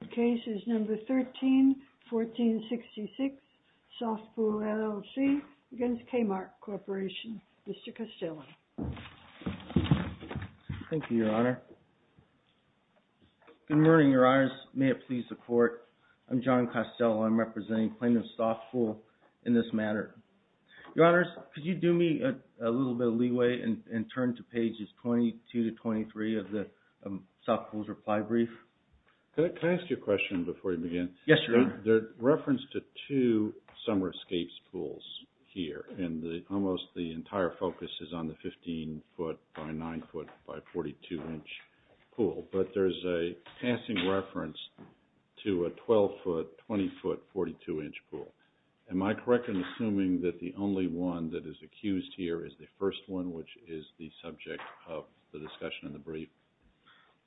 The case is number 13-1466, Sofpool LLC against Kmart Corporation. Mr. Costello. Thank you, Your Honor. Good morning, Your Honors. May it please the Court, I'm John Costello. I'm representing plaintiff Sofpool in this matter. Your Honors, could you do me a little bit of leeway and turn to pages 22 to 23 of Sofpool's reply brief? Could I ask you a question before we begin? Yes, Your Honor. The reference to two summer escapes pools here, and almost the entire focus is on the 15-foot by 9-foot by 42-inch pool, but there's a passing reference to a 12-foot, 20-foot, 42-inch pool. Am I correct in assuming that the only one that is accused here is the first one, which is the subject of the discussion in the brief?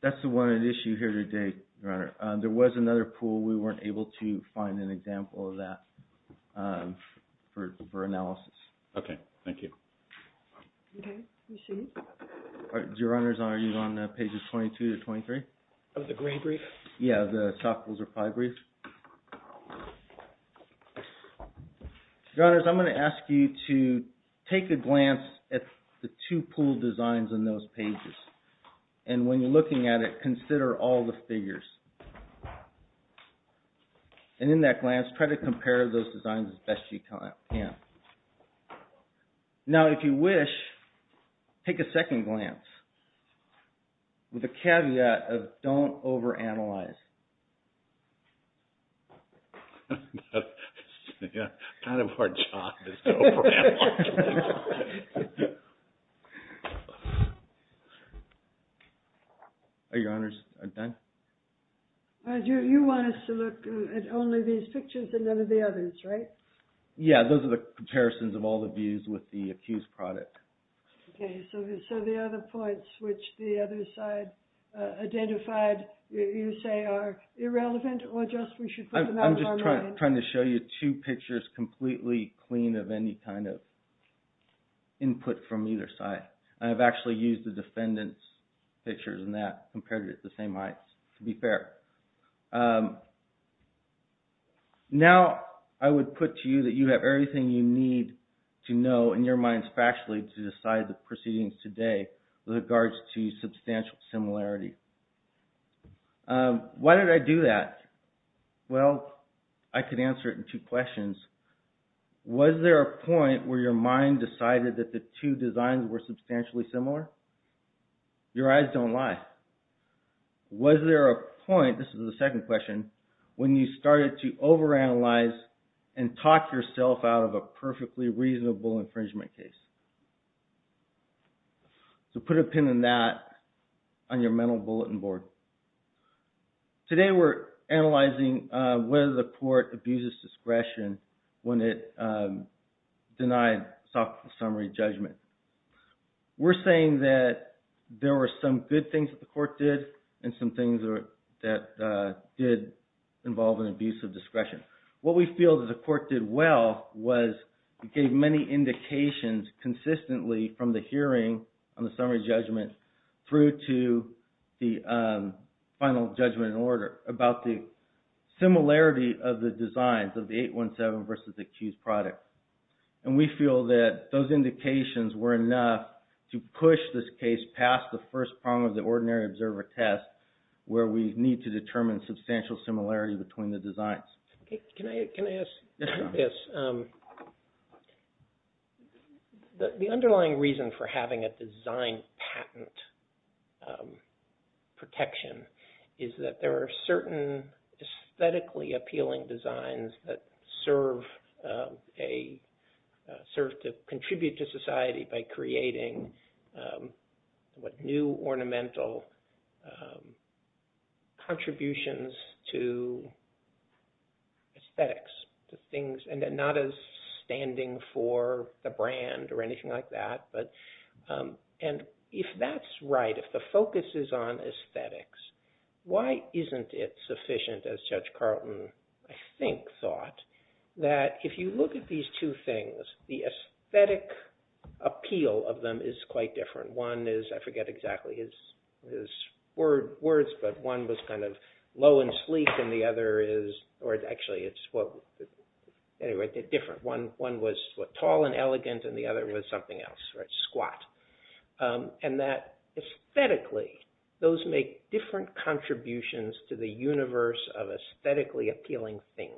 That's the one at issue here today, Your Honor. There was another pool, we weren't able to find an example of that for analysis. Okay, thank you. Your Honors, are you on pages 22 to 23? Of the green brief? Yeah, the Sofpool's reply brief. Your Honors, I'm going to ask you to take a glance at the two pool designs in those pages, and when you're looking at it, consider all the figures. And in that glance, try to compare those designs as best you can. Now, if you wish, take a second glance with a caveat of don't overanalyze. That's kind of our job, is to overanalyze. Your Honors, I'm done. You want us to look at only these pictures and never the others, right? Yeah, those are the comparisons of all the views with the accused product. Okay, so the other points, which the other side identified, you say are irrelevant, or just we should put them out of our minds? I'm just trying to show you two pictures completely clean of any kind of input from either side. I've actually used the defendant's pictures in that, compared to the same heights, to be fair. Now, I would put to you that you have everything you need to know in your minds factually to decide the proceedings today with regards to substantial similarity. Why did I do that? Well, I could answer it in two questions. Was there a point where your mind decided that the two designs were substantially similar? Your eyes don't lie. Was there a point, this is the second question, when you started to overanalyze and talk yourself out of a perfectly reasonable infringement case? So, put a pin in that on your mental bulletin board. Today, we're analyzing whether the court abuses discretion when it denied a summary judgment. We're saying that there were some good things that the court did and some things that did involve an abuse of discretion. What we feel that the court did well was it gave many indications consistently from the hearing on the summary judgment through to the final judgment in order about the similarity of the designs of the 817 versus the accused product. And we feel that those indications were enough to push this case past the first prong of the ordinary observer test where we need to determine substantial similarity between the two. The underlying reason for having a design patent protection is that there are certain aesthetically appealing designs that serve to contribute to society by creating what new ornamental contributions to aesthetics. And not as standing for the brand or anything like that. And if that's right, if the focus is on aesthetics, why isn't it sufficient as Judge Carlton, I think, thought that if you look at these two things, the aesthetic appeal of them is quite different. One is, I forget exactly his words, but one was kind of low and sleek and the other is, or actually it's different. One was tall and elegant and the other was something else, squat. And that aesthetically, those make different contributions to the universe of aesthetically appealing things.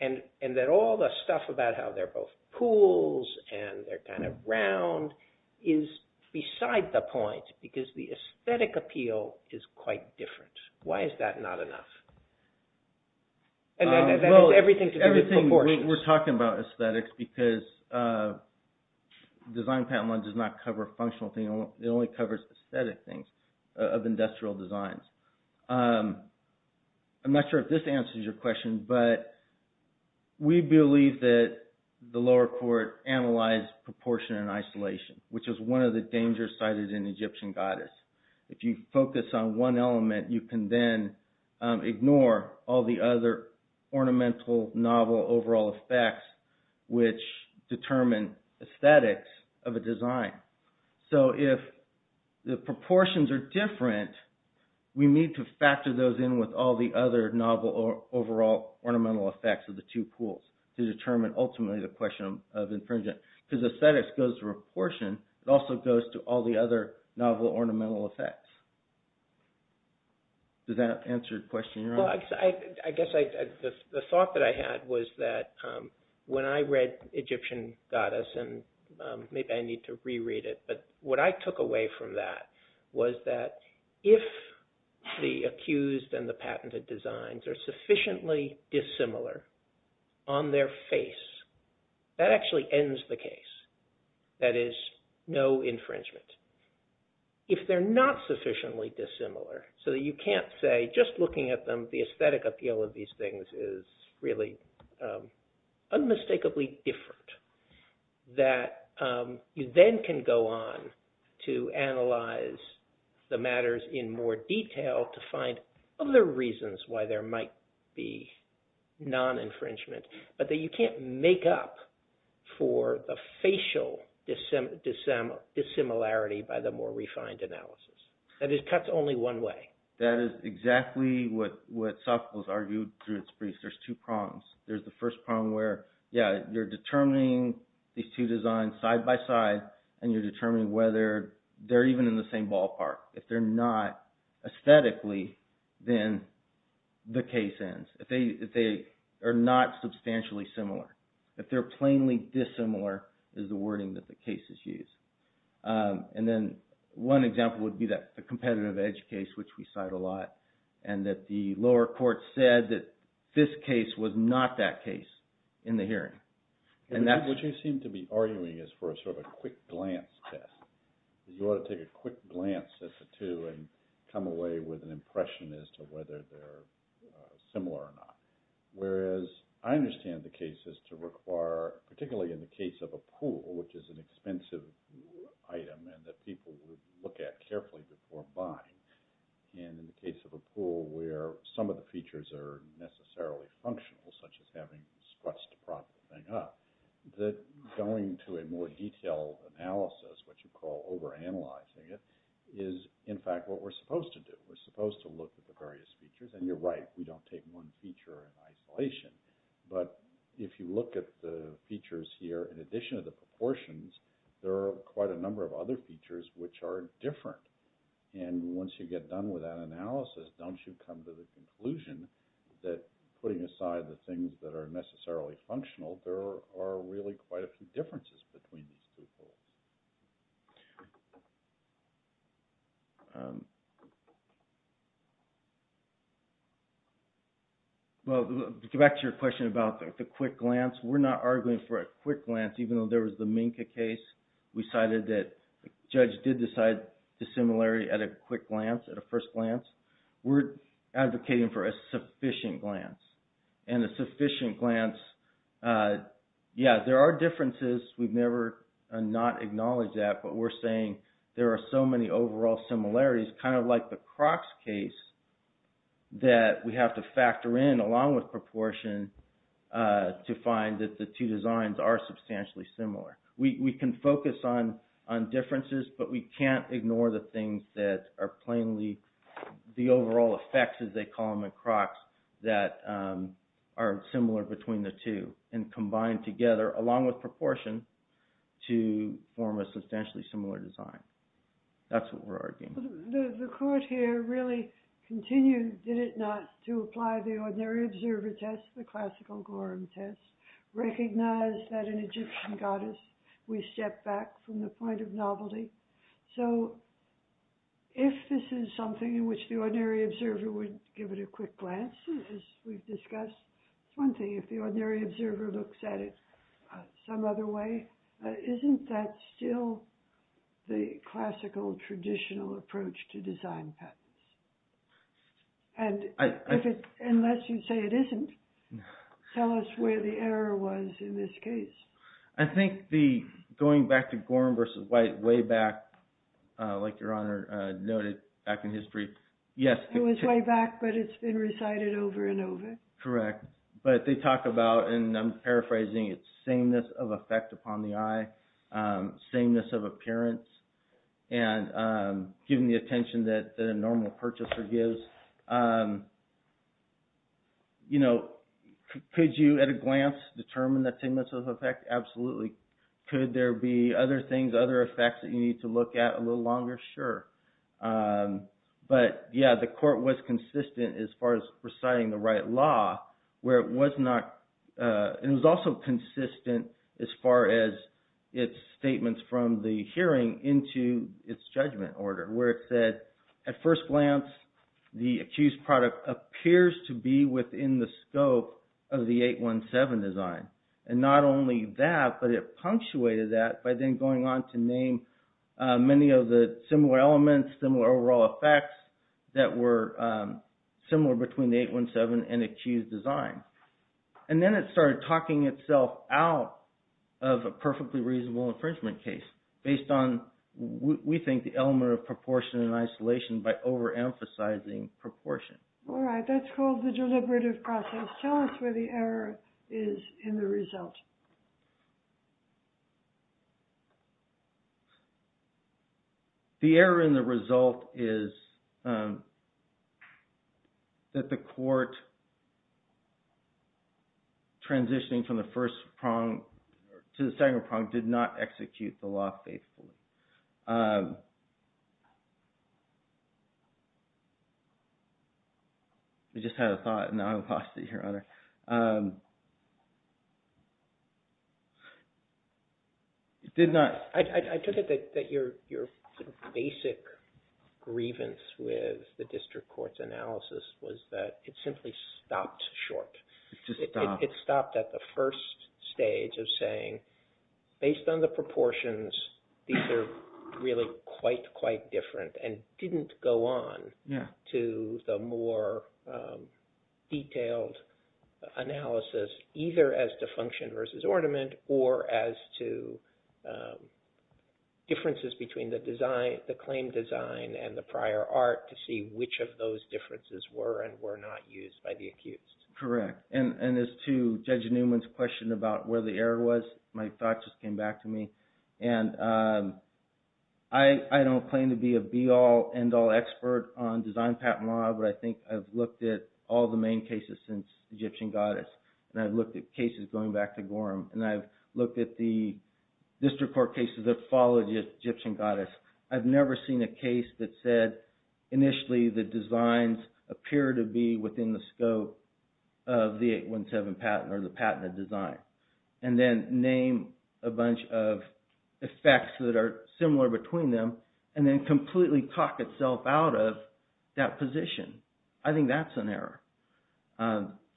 And that all the stuff about how they're both pools and they're round is beside the point because the aesthetic appeal is quite different. Why is that not enough? And that is everything to do with proportions. We're talking about aesthetics because design patent law does not cover functional things. It only covers aesthetic things of industrial designs. I'm not sure if this answers your question, but we believe that the lower court analyzed proportion and isolation, which is one of the dangers cited in Egyptian goddess. If you focus on one element, you can then ignore all the other ornamental novel overall effects, which determine aesthetics of a design. So if the proportions are different, we need to factor those in with all the other novel overall ornamental effects of the two pools to determine ultimately the question of infringement. Because aesthetics goes to proportion, it also goes to all the other novel ornamental effects. Does that answer your question? Well, I guess the thought that I had was that when I read Egyptian goddess, and maybe I need to reread it, but what I took away from that was that if the accused and the patented designs are sufficiently dissimilar on their face, that actually ends the case. That is no infringement. If they're not sufficiently dissimilar, so that you can't say just looking at them, the aesthetic appeal of these things is really unmistakably different, that you then can go on to analyze the matters in more detail to find other reasons why there might be non-infringement, but that you can't make up for the facial dissimilarity by the more refined analysis. And it cuts only one way. That is exactly what Sophocles argued through its briefs. There's two prongs. There's the first prong where, yeah, you're determining these two designs side by side, and you're determining whether they're even in the same ballpark. If they're not aesthetically, then the case ends. If they are not substantially similar. If they're plainly dissimilar is the wording that the cases use. And then one example would be the competitive edge case, which we cite a lot, and that the lower court said that this case was not that case in the hearing. And that's what you seem to be arguing is for a sort of a quick glance test. You ought to take a quick glance at the two and come away with an impression as to whether they're similar or not. Whereas I understand the cases to require, particularly in the case of a pool, which is an expensive item and that people would look at carefully before buying. And in the case of a pool where some of the features are necessarily functional, such as having scruts to prop the thing up, that going to a more detailed analysis, which you call over-analyzing it, is in fact what we're supposed to do. We're supposed to look at the various features. And you're right. We don't take one feature in isolation. But if you look at the features here, in addition to the proportions, there are quite a number of other features which are different. And once you get done with that analysis, don't you come to the conclusion that putting aside the things that are necessarily functional, there are really quite a few differences between these two pools? Well, to get back to your question about the quick glance, we're not arguing for a quick glance. Even though there was the Minka case, we cited that the judge did decide dissimilarity at a first glance. We're advocating for a sufficient glance. And a sufficient glance, yeah, there are differences. We've never not acknowledged that. But we're saying there are so many overall similarities, kind of like the Crocs case, that we have to factor in, along with proportion, to find that the two designs are substantially similar. We can focus on differences, but we can't ignore the things that are plainly the overall effects, as they call them in Crocs, that are similar between the two, and combine together, along with proportion, to form a substantially similar design. That's what we're arguing. The court here really continued, did it not, to apply the ordinary observer test, the classical Gorham test, recognize that in Egyptian goddess, we step back from the point of novelty? So, if this is something in which the ordinary observer would give it a quick glance, as we've discussed, it's one thing. If the ordinary observer looks at it some other way, isn't that still the classical traditional approach to design patterns? And, unless you say it isn't, tell us where the error was in this case. I think the going back to Gorham versus White, way back, like Your Honor noted, back in history, yes. It was way back, but it's been recited over and over. Correct. But they talk about, and I'm paraphrasing, it's sameness of effect upon the eye, sameness of appearance, and giving the attention that a normal purchaser gives. Could you, at a glance, determine the sameness of effect? Absolutely. Could there be other things, other effects that you need to look at a little longer? Sure. But, yeah, the court was consistent as far as reciting the right law, where it was not, and it was also consistent as far as its statements from the hearing into its judgment order, where it said, at first glance, the accused product appears to be within the scope of the 817 design. And not only that, but it punctuated that by then going on to name many of the similar elements, similar overall effects, that were similar between the 817 and accused design. And then it started talking itself out of a perfectly reasonable infringement case, based on, we think, the element of proportion and isolation by over-emphasizing proportion. All right. That's called the deliberative process. Tell us where the error is in the result. The error in the result is that the court, transitioning from the first prong to the second prong, did not execute the law faithfully. I just had a thought, and now I'm lost here, Your Honor. It did not. I took it that your basic grievance with the district court's analysis was that it simply stopped short. It stopped at the first stage of saying, based on the proportions, these are really quite, quite different, and didn't go on to the more detailed analysis, either as to function versus ornament, or as to differences between the claim design and the prior art, to see which of those differences were and were not used by the accused. Correct. And as to Judge Newman's question about where the error was, my thoughts just came back to me. And I don't claim to be a be-all, end-all expert on design patent law, but I think I've looked at all the main cases since Egyptian Goddess, and I've looked at cases going back to Gorham, and I've looked at the district court cases that followed Egyptian Goddess. I've never seen a case that said, initially, the designs appear to be within the bunch of effects that are similar between them, and then completely talk itself out of that position. I think that's an error.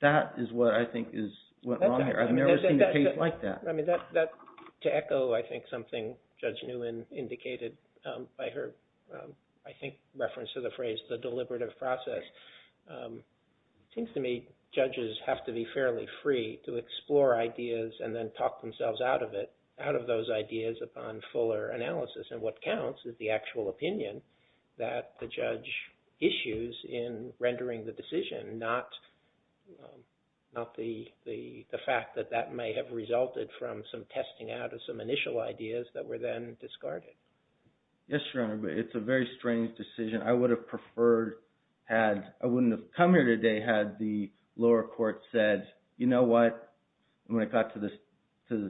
That is what I think is what went wrong here. I've never seen a case like that. To echo, I think, something Judge Newman indicated by her, I think, reference to the phrase, the deliberative process, it seems to me judges have to be fairly free to out of those ideas upon fuller analysis. And what counts is the actual opinion that the judge issues in rendering the decision, not the fact that that may have resulted from some testing out of some initial ideas that were then discarded. Yes, Your Honor, but it's a very strange decision. I wouldn't have come here today had the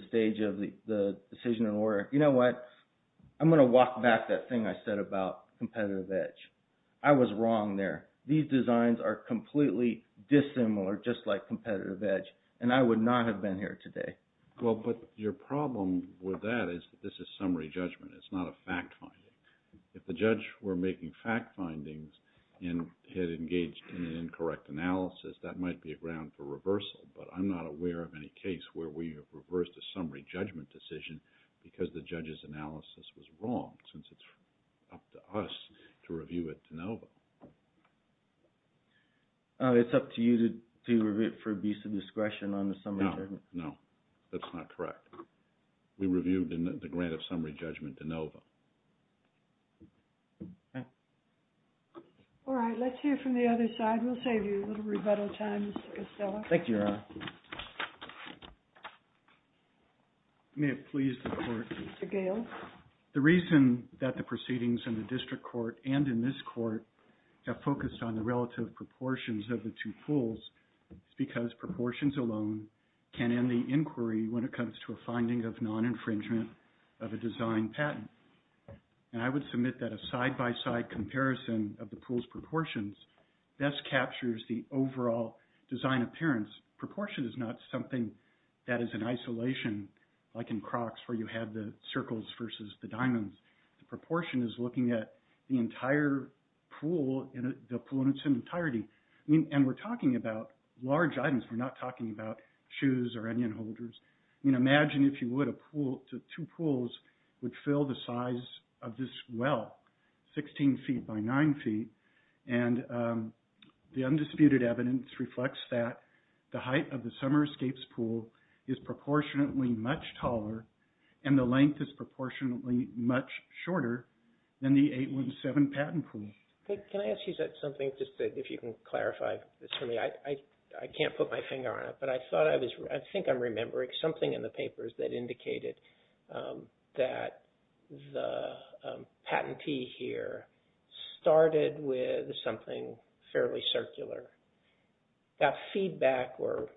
stage of the decision in order, you know what, I'm going to walk back that thing I said about competitive edge. I was wrong there. These designs are completely dissimilar just like competitive edge, and I would not have been here today. Well, but your problem with that is this is summary judgment. It's not a fact finding. If the judge were making fact findings and had engaged in an incorrect analysis, that might be a ground for reversal, but I'm not aware of any case where you have reversed a summary judgment decision because the judge's analysis was wrong, since it's up to us to review it de novo. It's up to you to review it for abuse of discretion on the summary judgment? No, that's not correct. We reviewed the grant of summary judgment de novo. All right, let's hear from the other side. We'll save you a little rebuttal time, Mr. Estella. Thank you, Your Honor. May it please the court. Mr. Gale. The reason that the proceedings in the district court and in this court have focused on the relative proportions of the two pools is because proportions alone can end the inquiry when it comes to a finding of non-infringement of a design patent, and I would submit that a side-by-side comparison of the pool's proportions best captures the overall design appearance. Proportion is not something that is in isolation, like in Crocs, where you have the circles versus the diamonds. Proportion is looking at the entire pool in its entirety, and we're talking about large items. We're not talking about shoes or onion holders. Imagine if you would, two pools would fill the size of this well, 16 feet by 9 feet, and the undisputed evidence reflects that the height of the Summer Escapes pool is proportionately much taller, and the length is proportionately much shorter than the 817 patent pool. Can I ask you something, just if you can clarify this for me? I can't put my finger on it, but I think I'm remembering something in the papers that indicated that the patentee here started with something fairly circular. That feedback or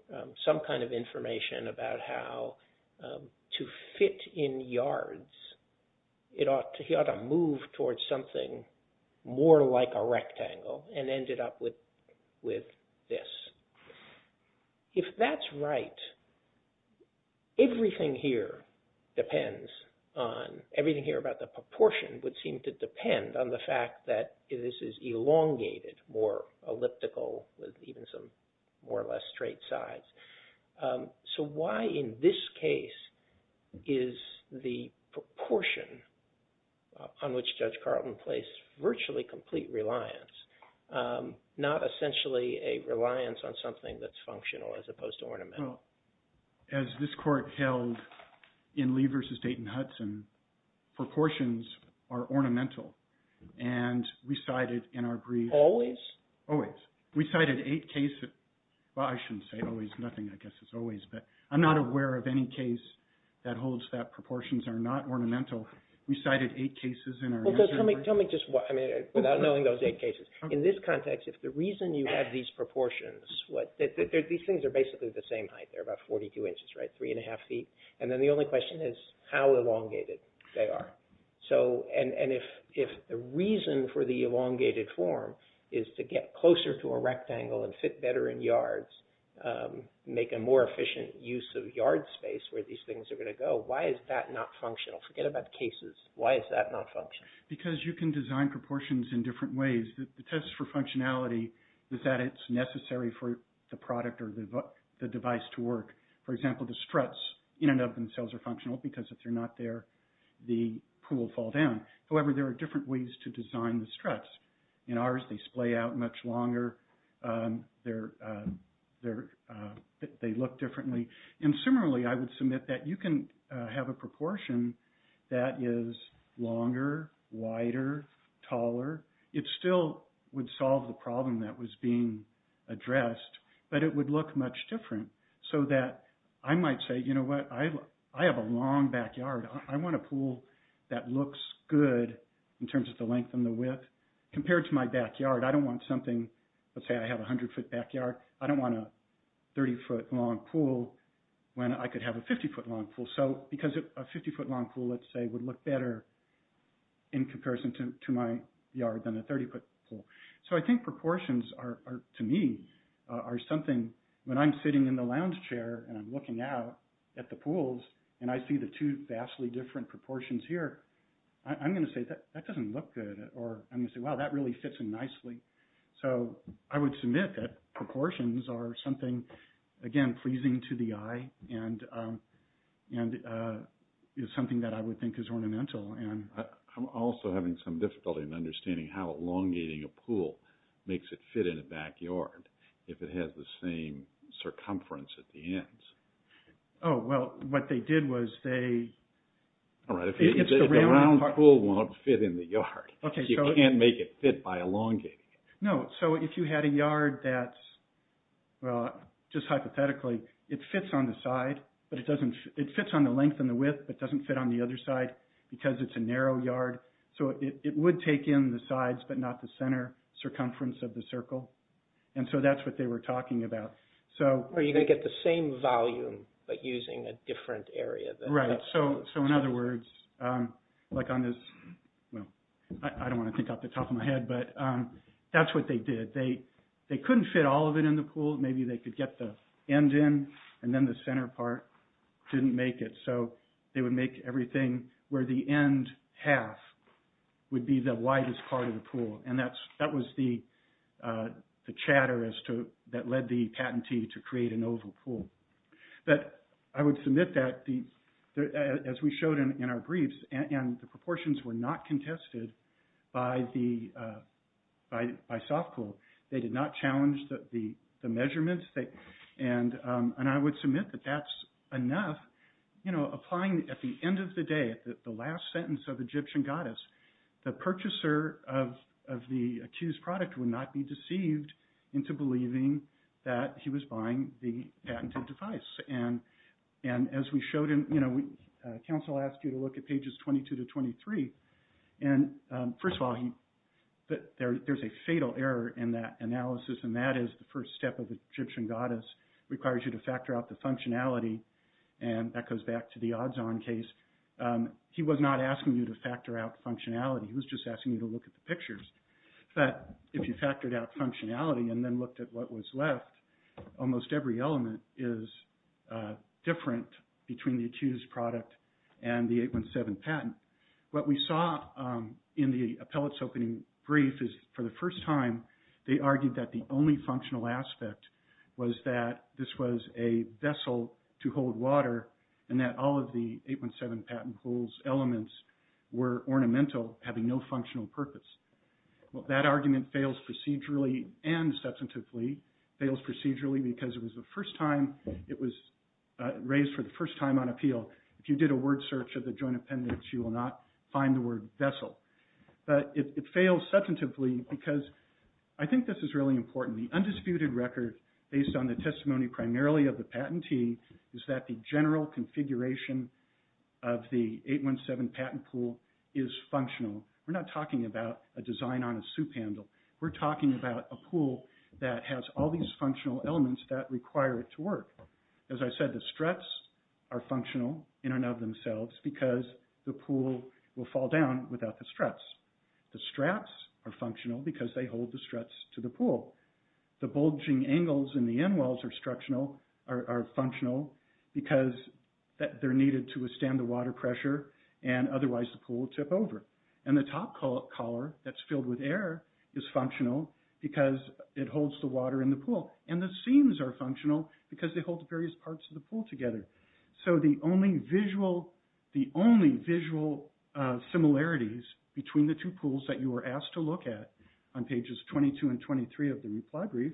some kind of information about how to fit in yards, he ought to move towards something more like a rectangle and ended up with this. If that's right, everything here depends on, everything here about the proportion would seem to depend on the fact that this is elongated, more elliptical, with even some more or less straight sides. Why in this case is the proportion on which Judge Carlton placed virtually complete reliance, not essentially a reliance on something that's functional as opposed to ornamental? As this court held in Lee versus Dayton-Hudson, proportions are ornamental, and we cited in our brief- Always? Always. We cited eight cases, well I shouldn't say always, nothing I guess is always, but I'm not aware of any case that holds that proportions are not ornamental. We cited eight cases in our- Tell me just what, without knowing those eight cases, in this context, if the reason you have these proportions, these things are basically the same height, they're about 42 inches, right, three and a half feet, and then the only question is how elongated they are. If the reason for the elongated form is to get closer to a rectangle and fit better in yards, make a more efficient use of yard space where these things are going to go, why is that not functional? Forget about cases, why is that not functional? Because you can design proportions in different ways. The test for functionality is that it's necessary for the product or the device to work. For example, the struts in and of themselves are not there, the pool will fall down. However, there are different ways to design the struts. In ours, they splay out much longer, they look differently. And similarly, I would submit that you can have a proportion that is longer, wider, taller, it still would solve the problem that was being addressed, but it would look much different. So that I might say, you know what, I have a long backyard, I want a pool that looks good in terms of the length and the width. Compared to my backyard, I don't want something, let's say I have a 100 foot backyard, I don't want a 30 foot long pool when I could have a 50 foot long pool. So because a 50 foot long pool, let's say, would look better in comparison to my yard than a 30 foot pool. So I think proportions are, to me, are something, when I'm sitting in the lounge chair, and I'm looking out at the pools, and I see the two vastly different proportions here, I'm going to say that that doesn't look good, or I'm going to say, wow, that really fits in nicely. So I would submit that proportions are something, again, pleasing to the eye, and is something that I would think is ornamental. And I'm also having some difficulty in understanding how elongating a pool makes it fit in a backyard, if it has the same circumference at the ends. Oh, well, what they did was they... All right, if the round pool won't fit in the yard, you can't make it fit by elongating it. No, so if you had a yard that's, well, just hypothetically, it fits on the side, but it doesn't, it fits on the length and the width, but doesn't fit on the other side, because it's a narrow yard. So it would take in the sides, but not the center circumference of the circle. And so that's what they were talking about. So... Or you're going to get the same volume, but using a different area. Right. So in other words, like on this... Well, I don't want to think off the top of my head, but that's what they did. They couldn't fit all of it in the pool. Maybe they could get the end in, and then the center part didn't make it. So they would make everything where the end half would be the widest part of the pool. And that was the chatter that led the patentee to create an oval pool. But I would submit that, as we showed in our briefs, and the proportions were not contested by Softpool. They did not challenge the measurements. And I would submit that that's enough. Applying at the end of the day, at the last sentence of Egyptian goddess, the purchaser of the accused product would not be deceived into believing that he was buying the patented device. And as we showed in... Council asked you to look at pages 22 to 23. And first of all, there's a fatal error in that analysis, and that is the first step of Egyptian functionality. And that goes back to the odds-on case. He was not asking you to factor out functionality. He was just asking you to look at the pictures. But if you factored out functionality and then looked at what was left, almost every element is different between the accused product and the 817 patent. What we saw in the appellate's opening brief is, for the first time, they argued that the only functional aspect was that this was a vessel to hold water, and that all of the 817 patent pool's elements were ornamental, having no functional purpose. Well, that argument fails procedurally and substantively. It fails procedurally because it was the first time it was raised for the first time on appeal. If you did a word search of the joint appendix, you will not find the word vessel. But it fails substantively because I think this is really important. The undisputed record, based on the testimony primarily of the patentee, is that the general configuration of the 817 patent pool is functional. We're not talking about a design on a soup handle. We're talking about a pool that has all these functional elements that require it to work. As I said, the straps are functional in and of themselves because the pool will fall down without the straps. The straps are functional because they hold the struts to the pool. The bulging angles in the end walls are functional because they're needed to withstand the water pressure, and otherwise the pool will tip over. And the top collar that's filled with air is functional because it holds the water in the pool. And the seams are functional because they hold the various parts of the pool together. So the only visual similarities between the two pools that you were asked to look at on pages 22 and 23 of the reply brief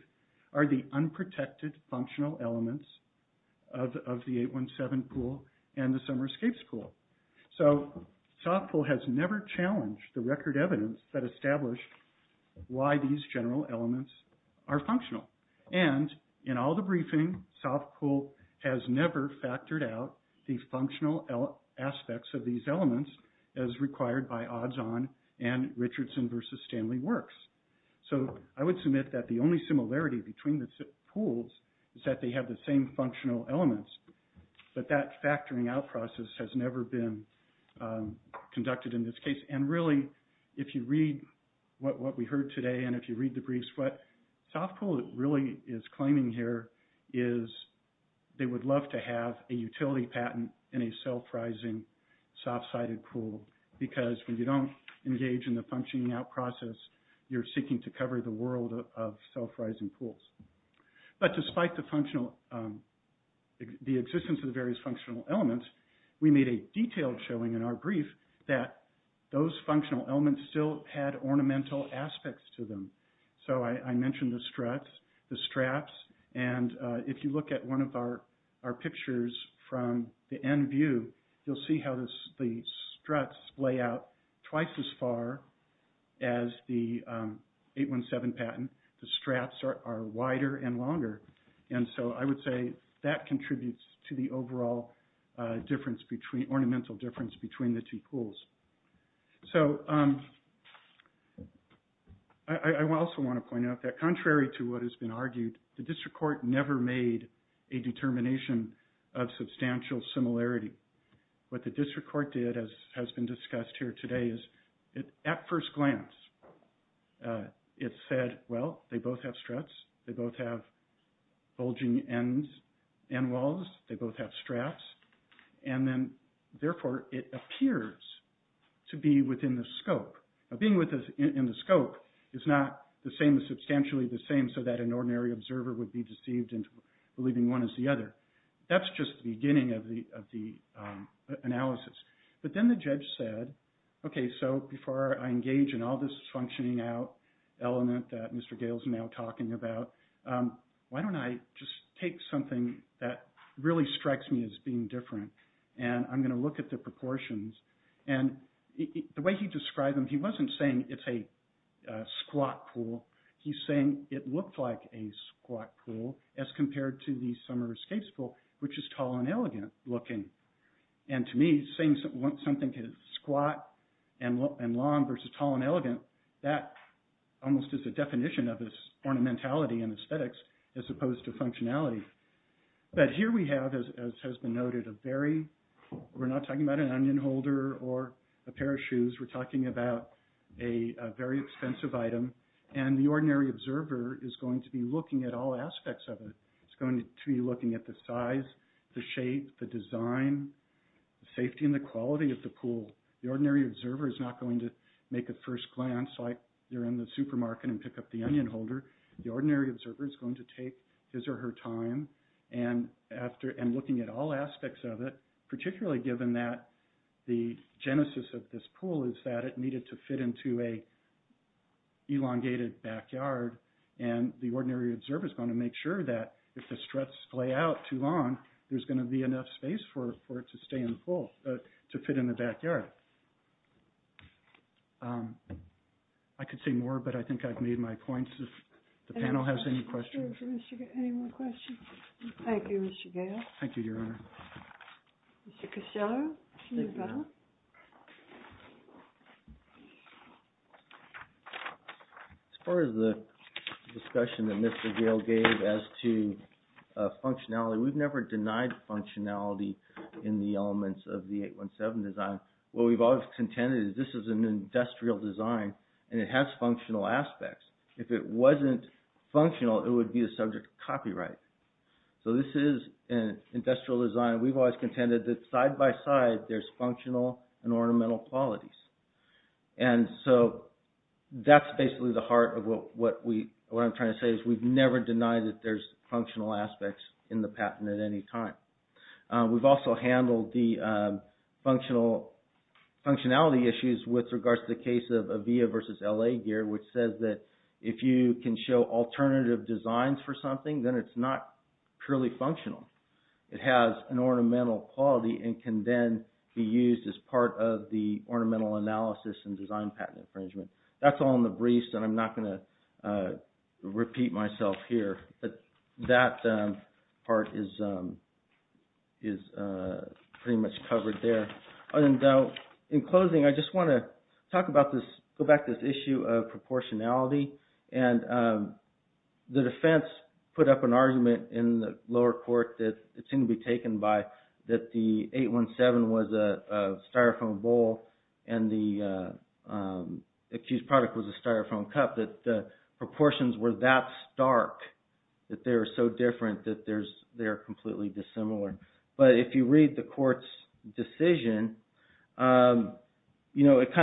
are the unprotected functional elements of the 817 pool and the Summer Escapes pool. So Softpool has never challenged the record evidence that established why these general elements are functional. And in all the briefs, Softpool has never factored out the functional aspects of these elements as required by Odds-On and Richardson v. Stanley Works. So I would submit that the only similarity between the pools is that they have the same functional elements, but that factoring out process has never been conducted in this case. And really, if you read what we heard today and if you read the briefs, what Softpool really is claiming here is they would love to have a utility patent in a self-rising, soft-sided pool because when you don't engage in the functioning out process, you're seeking to cover the world of self-rising pools. But despite the existence of the various functional elements, we made a detailed showing in our brief that those functional elements still had ornamental aspects to them. So I mentioned the struts, the straps, and if you look at one of our pictures from the end view, you'll see how the struts lay out twice as far as the 817 patent. The straps are wider and longer. And so I would say that contributes to the overall ornamental difference between the two pools. So I also want to point out that contrary to what has been argued, the district court never made a determination of substantial similarity. What the district court did, as has been discussed here today, is at first glance, it said, well, they both have struts. They both have bulging ends and walls. They both have straps. And then, therefore, it appears to be within the scope. Now, being within the scope is not the same as substantially the same so that an ordinary observer would be deceived into believing one is the other. That's just the beginning of the analysis. But then the judge said, okay, so before I engage in all this functioning out element that Mr. Gale is now talking about, why don't I just take something that really strikes me as being different, and I'm going to look at the proportions. And the way he described them, he wasn't saying it's a squat pool. He's saying it looked like a squat pool as compared to the summer escape school, which is tall and elegant looking. And to me, saying something is squat and long versus tall and elegant, that almost is a definition of this ornamentality and aesthetics as opposed to functionality. But here we have, as has been noted, a very, we're not talking about an onion holder or a pair of shoes. We're talking about a very expensive item. And the ordinary observer is going to be looking at all aspects of it. It's going to be looking at the size, the shape, the design, safety, and the quality of the pool. The ordinary observer is not going to make a first glance like you're in the supermarket and pick up the onion holder. The ordinary observer is going to take his or her time and looking at all aspects of it, particularly given that the genesis of this pool is that it needed to fit into an ordinary pool. And the ordinary observer is going to make sure that if the struts play out too long, there's going to be enough space for it to stay in the pool, to fit in the backyard. I could say more, but I think I've made my points. If the panel has any questions. Any more questions? Thank you, Mr. Gale. Thank you, Your Honor. Mr. Castello. As far as the discussion that Mr. Gale gave as to functionality, we've never denied functionality in the elements of the 817 design. What we've always contended is this is an industrial design and it has functional aspects. If it wasn't functional, it would be a subject of copyright. So this is an industrial design. We've always contended that side by side there's functional and ornamental qualities. And so that's basically the heart of what I'm trying to say is we've never denied that there's functional aspects in the patent at any time. We've also handled the functionality issues with regards to the case of AVEA versus LA Gear, which says that if you can show alternative designs for something, then it's not purely functional. It has an ornamental quality and can then be used as part of the ornamental analysis and design patent infringement. That's all in the briefs, and I'm not going to repeat myself here, but that part is pretty much covered there. In closing, I just want to talk about this, go back to this issue of proportionality and the defense put up an argument in the lower court that it seemed to be taken by that the 817 was a styrofoam bowl and the accused product was a styrofoam cup, that the proportions were that stark, that they were so different that they're completely dissimilar. But if you read the court's decision, it kind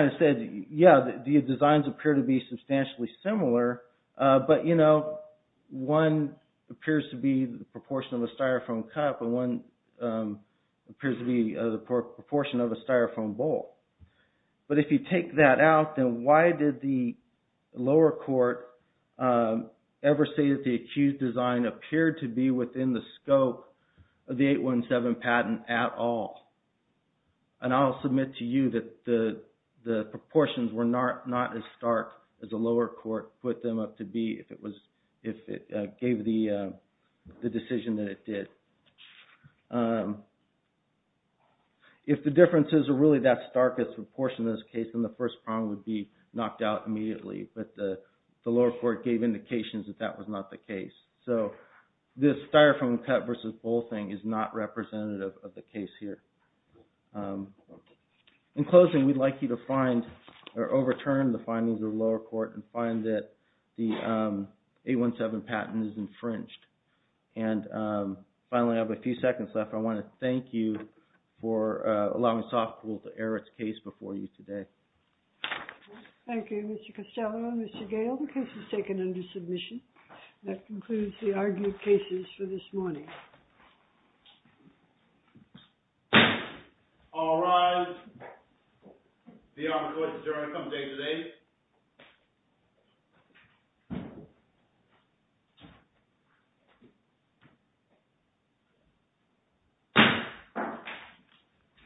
of said, yeah, the designs appear to be substantially similar, but one appears to be the proportion of a styrofoam cup and one appears to be the proportion of a styrofoam bowl. But if you take that out, then why did the lower court ever say that the accused design appeared to be within the scope of the 817 patent at all? And I'll submit to you that the proportions were not as stark as the lower court put them up to be if it gave the decision that it did. If the differences are really that stark a proportion in this case, then the first prong would be knocked out immediately, but the lower court gave indications that that was not the case. So this styrofoam cup versus bowl thing is not representative of the case here. In closing, we'd like you to find or overturn the findings of the lower court and find that the 817 patent is infringed. And finally, I have a few seconds left. I want to thank you for allowing Softpool to air its case before you today. Thank you, Mr. Costello and Mr. Gale. The case is taken under submission. That concludes the argued cases for this morning. All rise. The honorable court is adjourned on a count of eight to eight.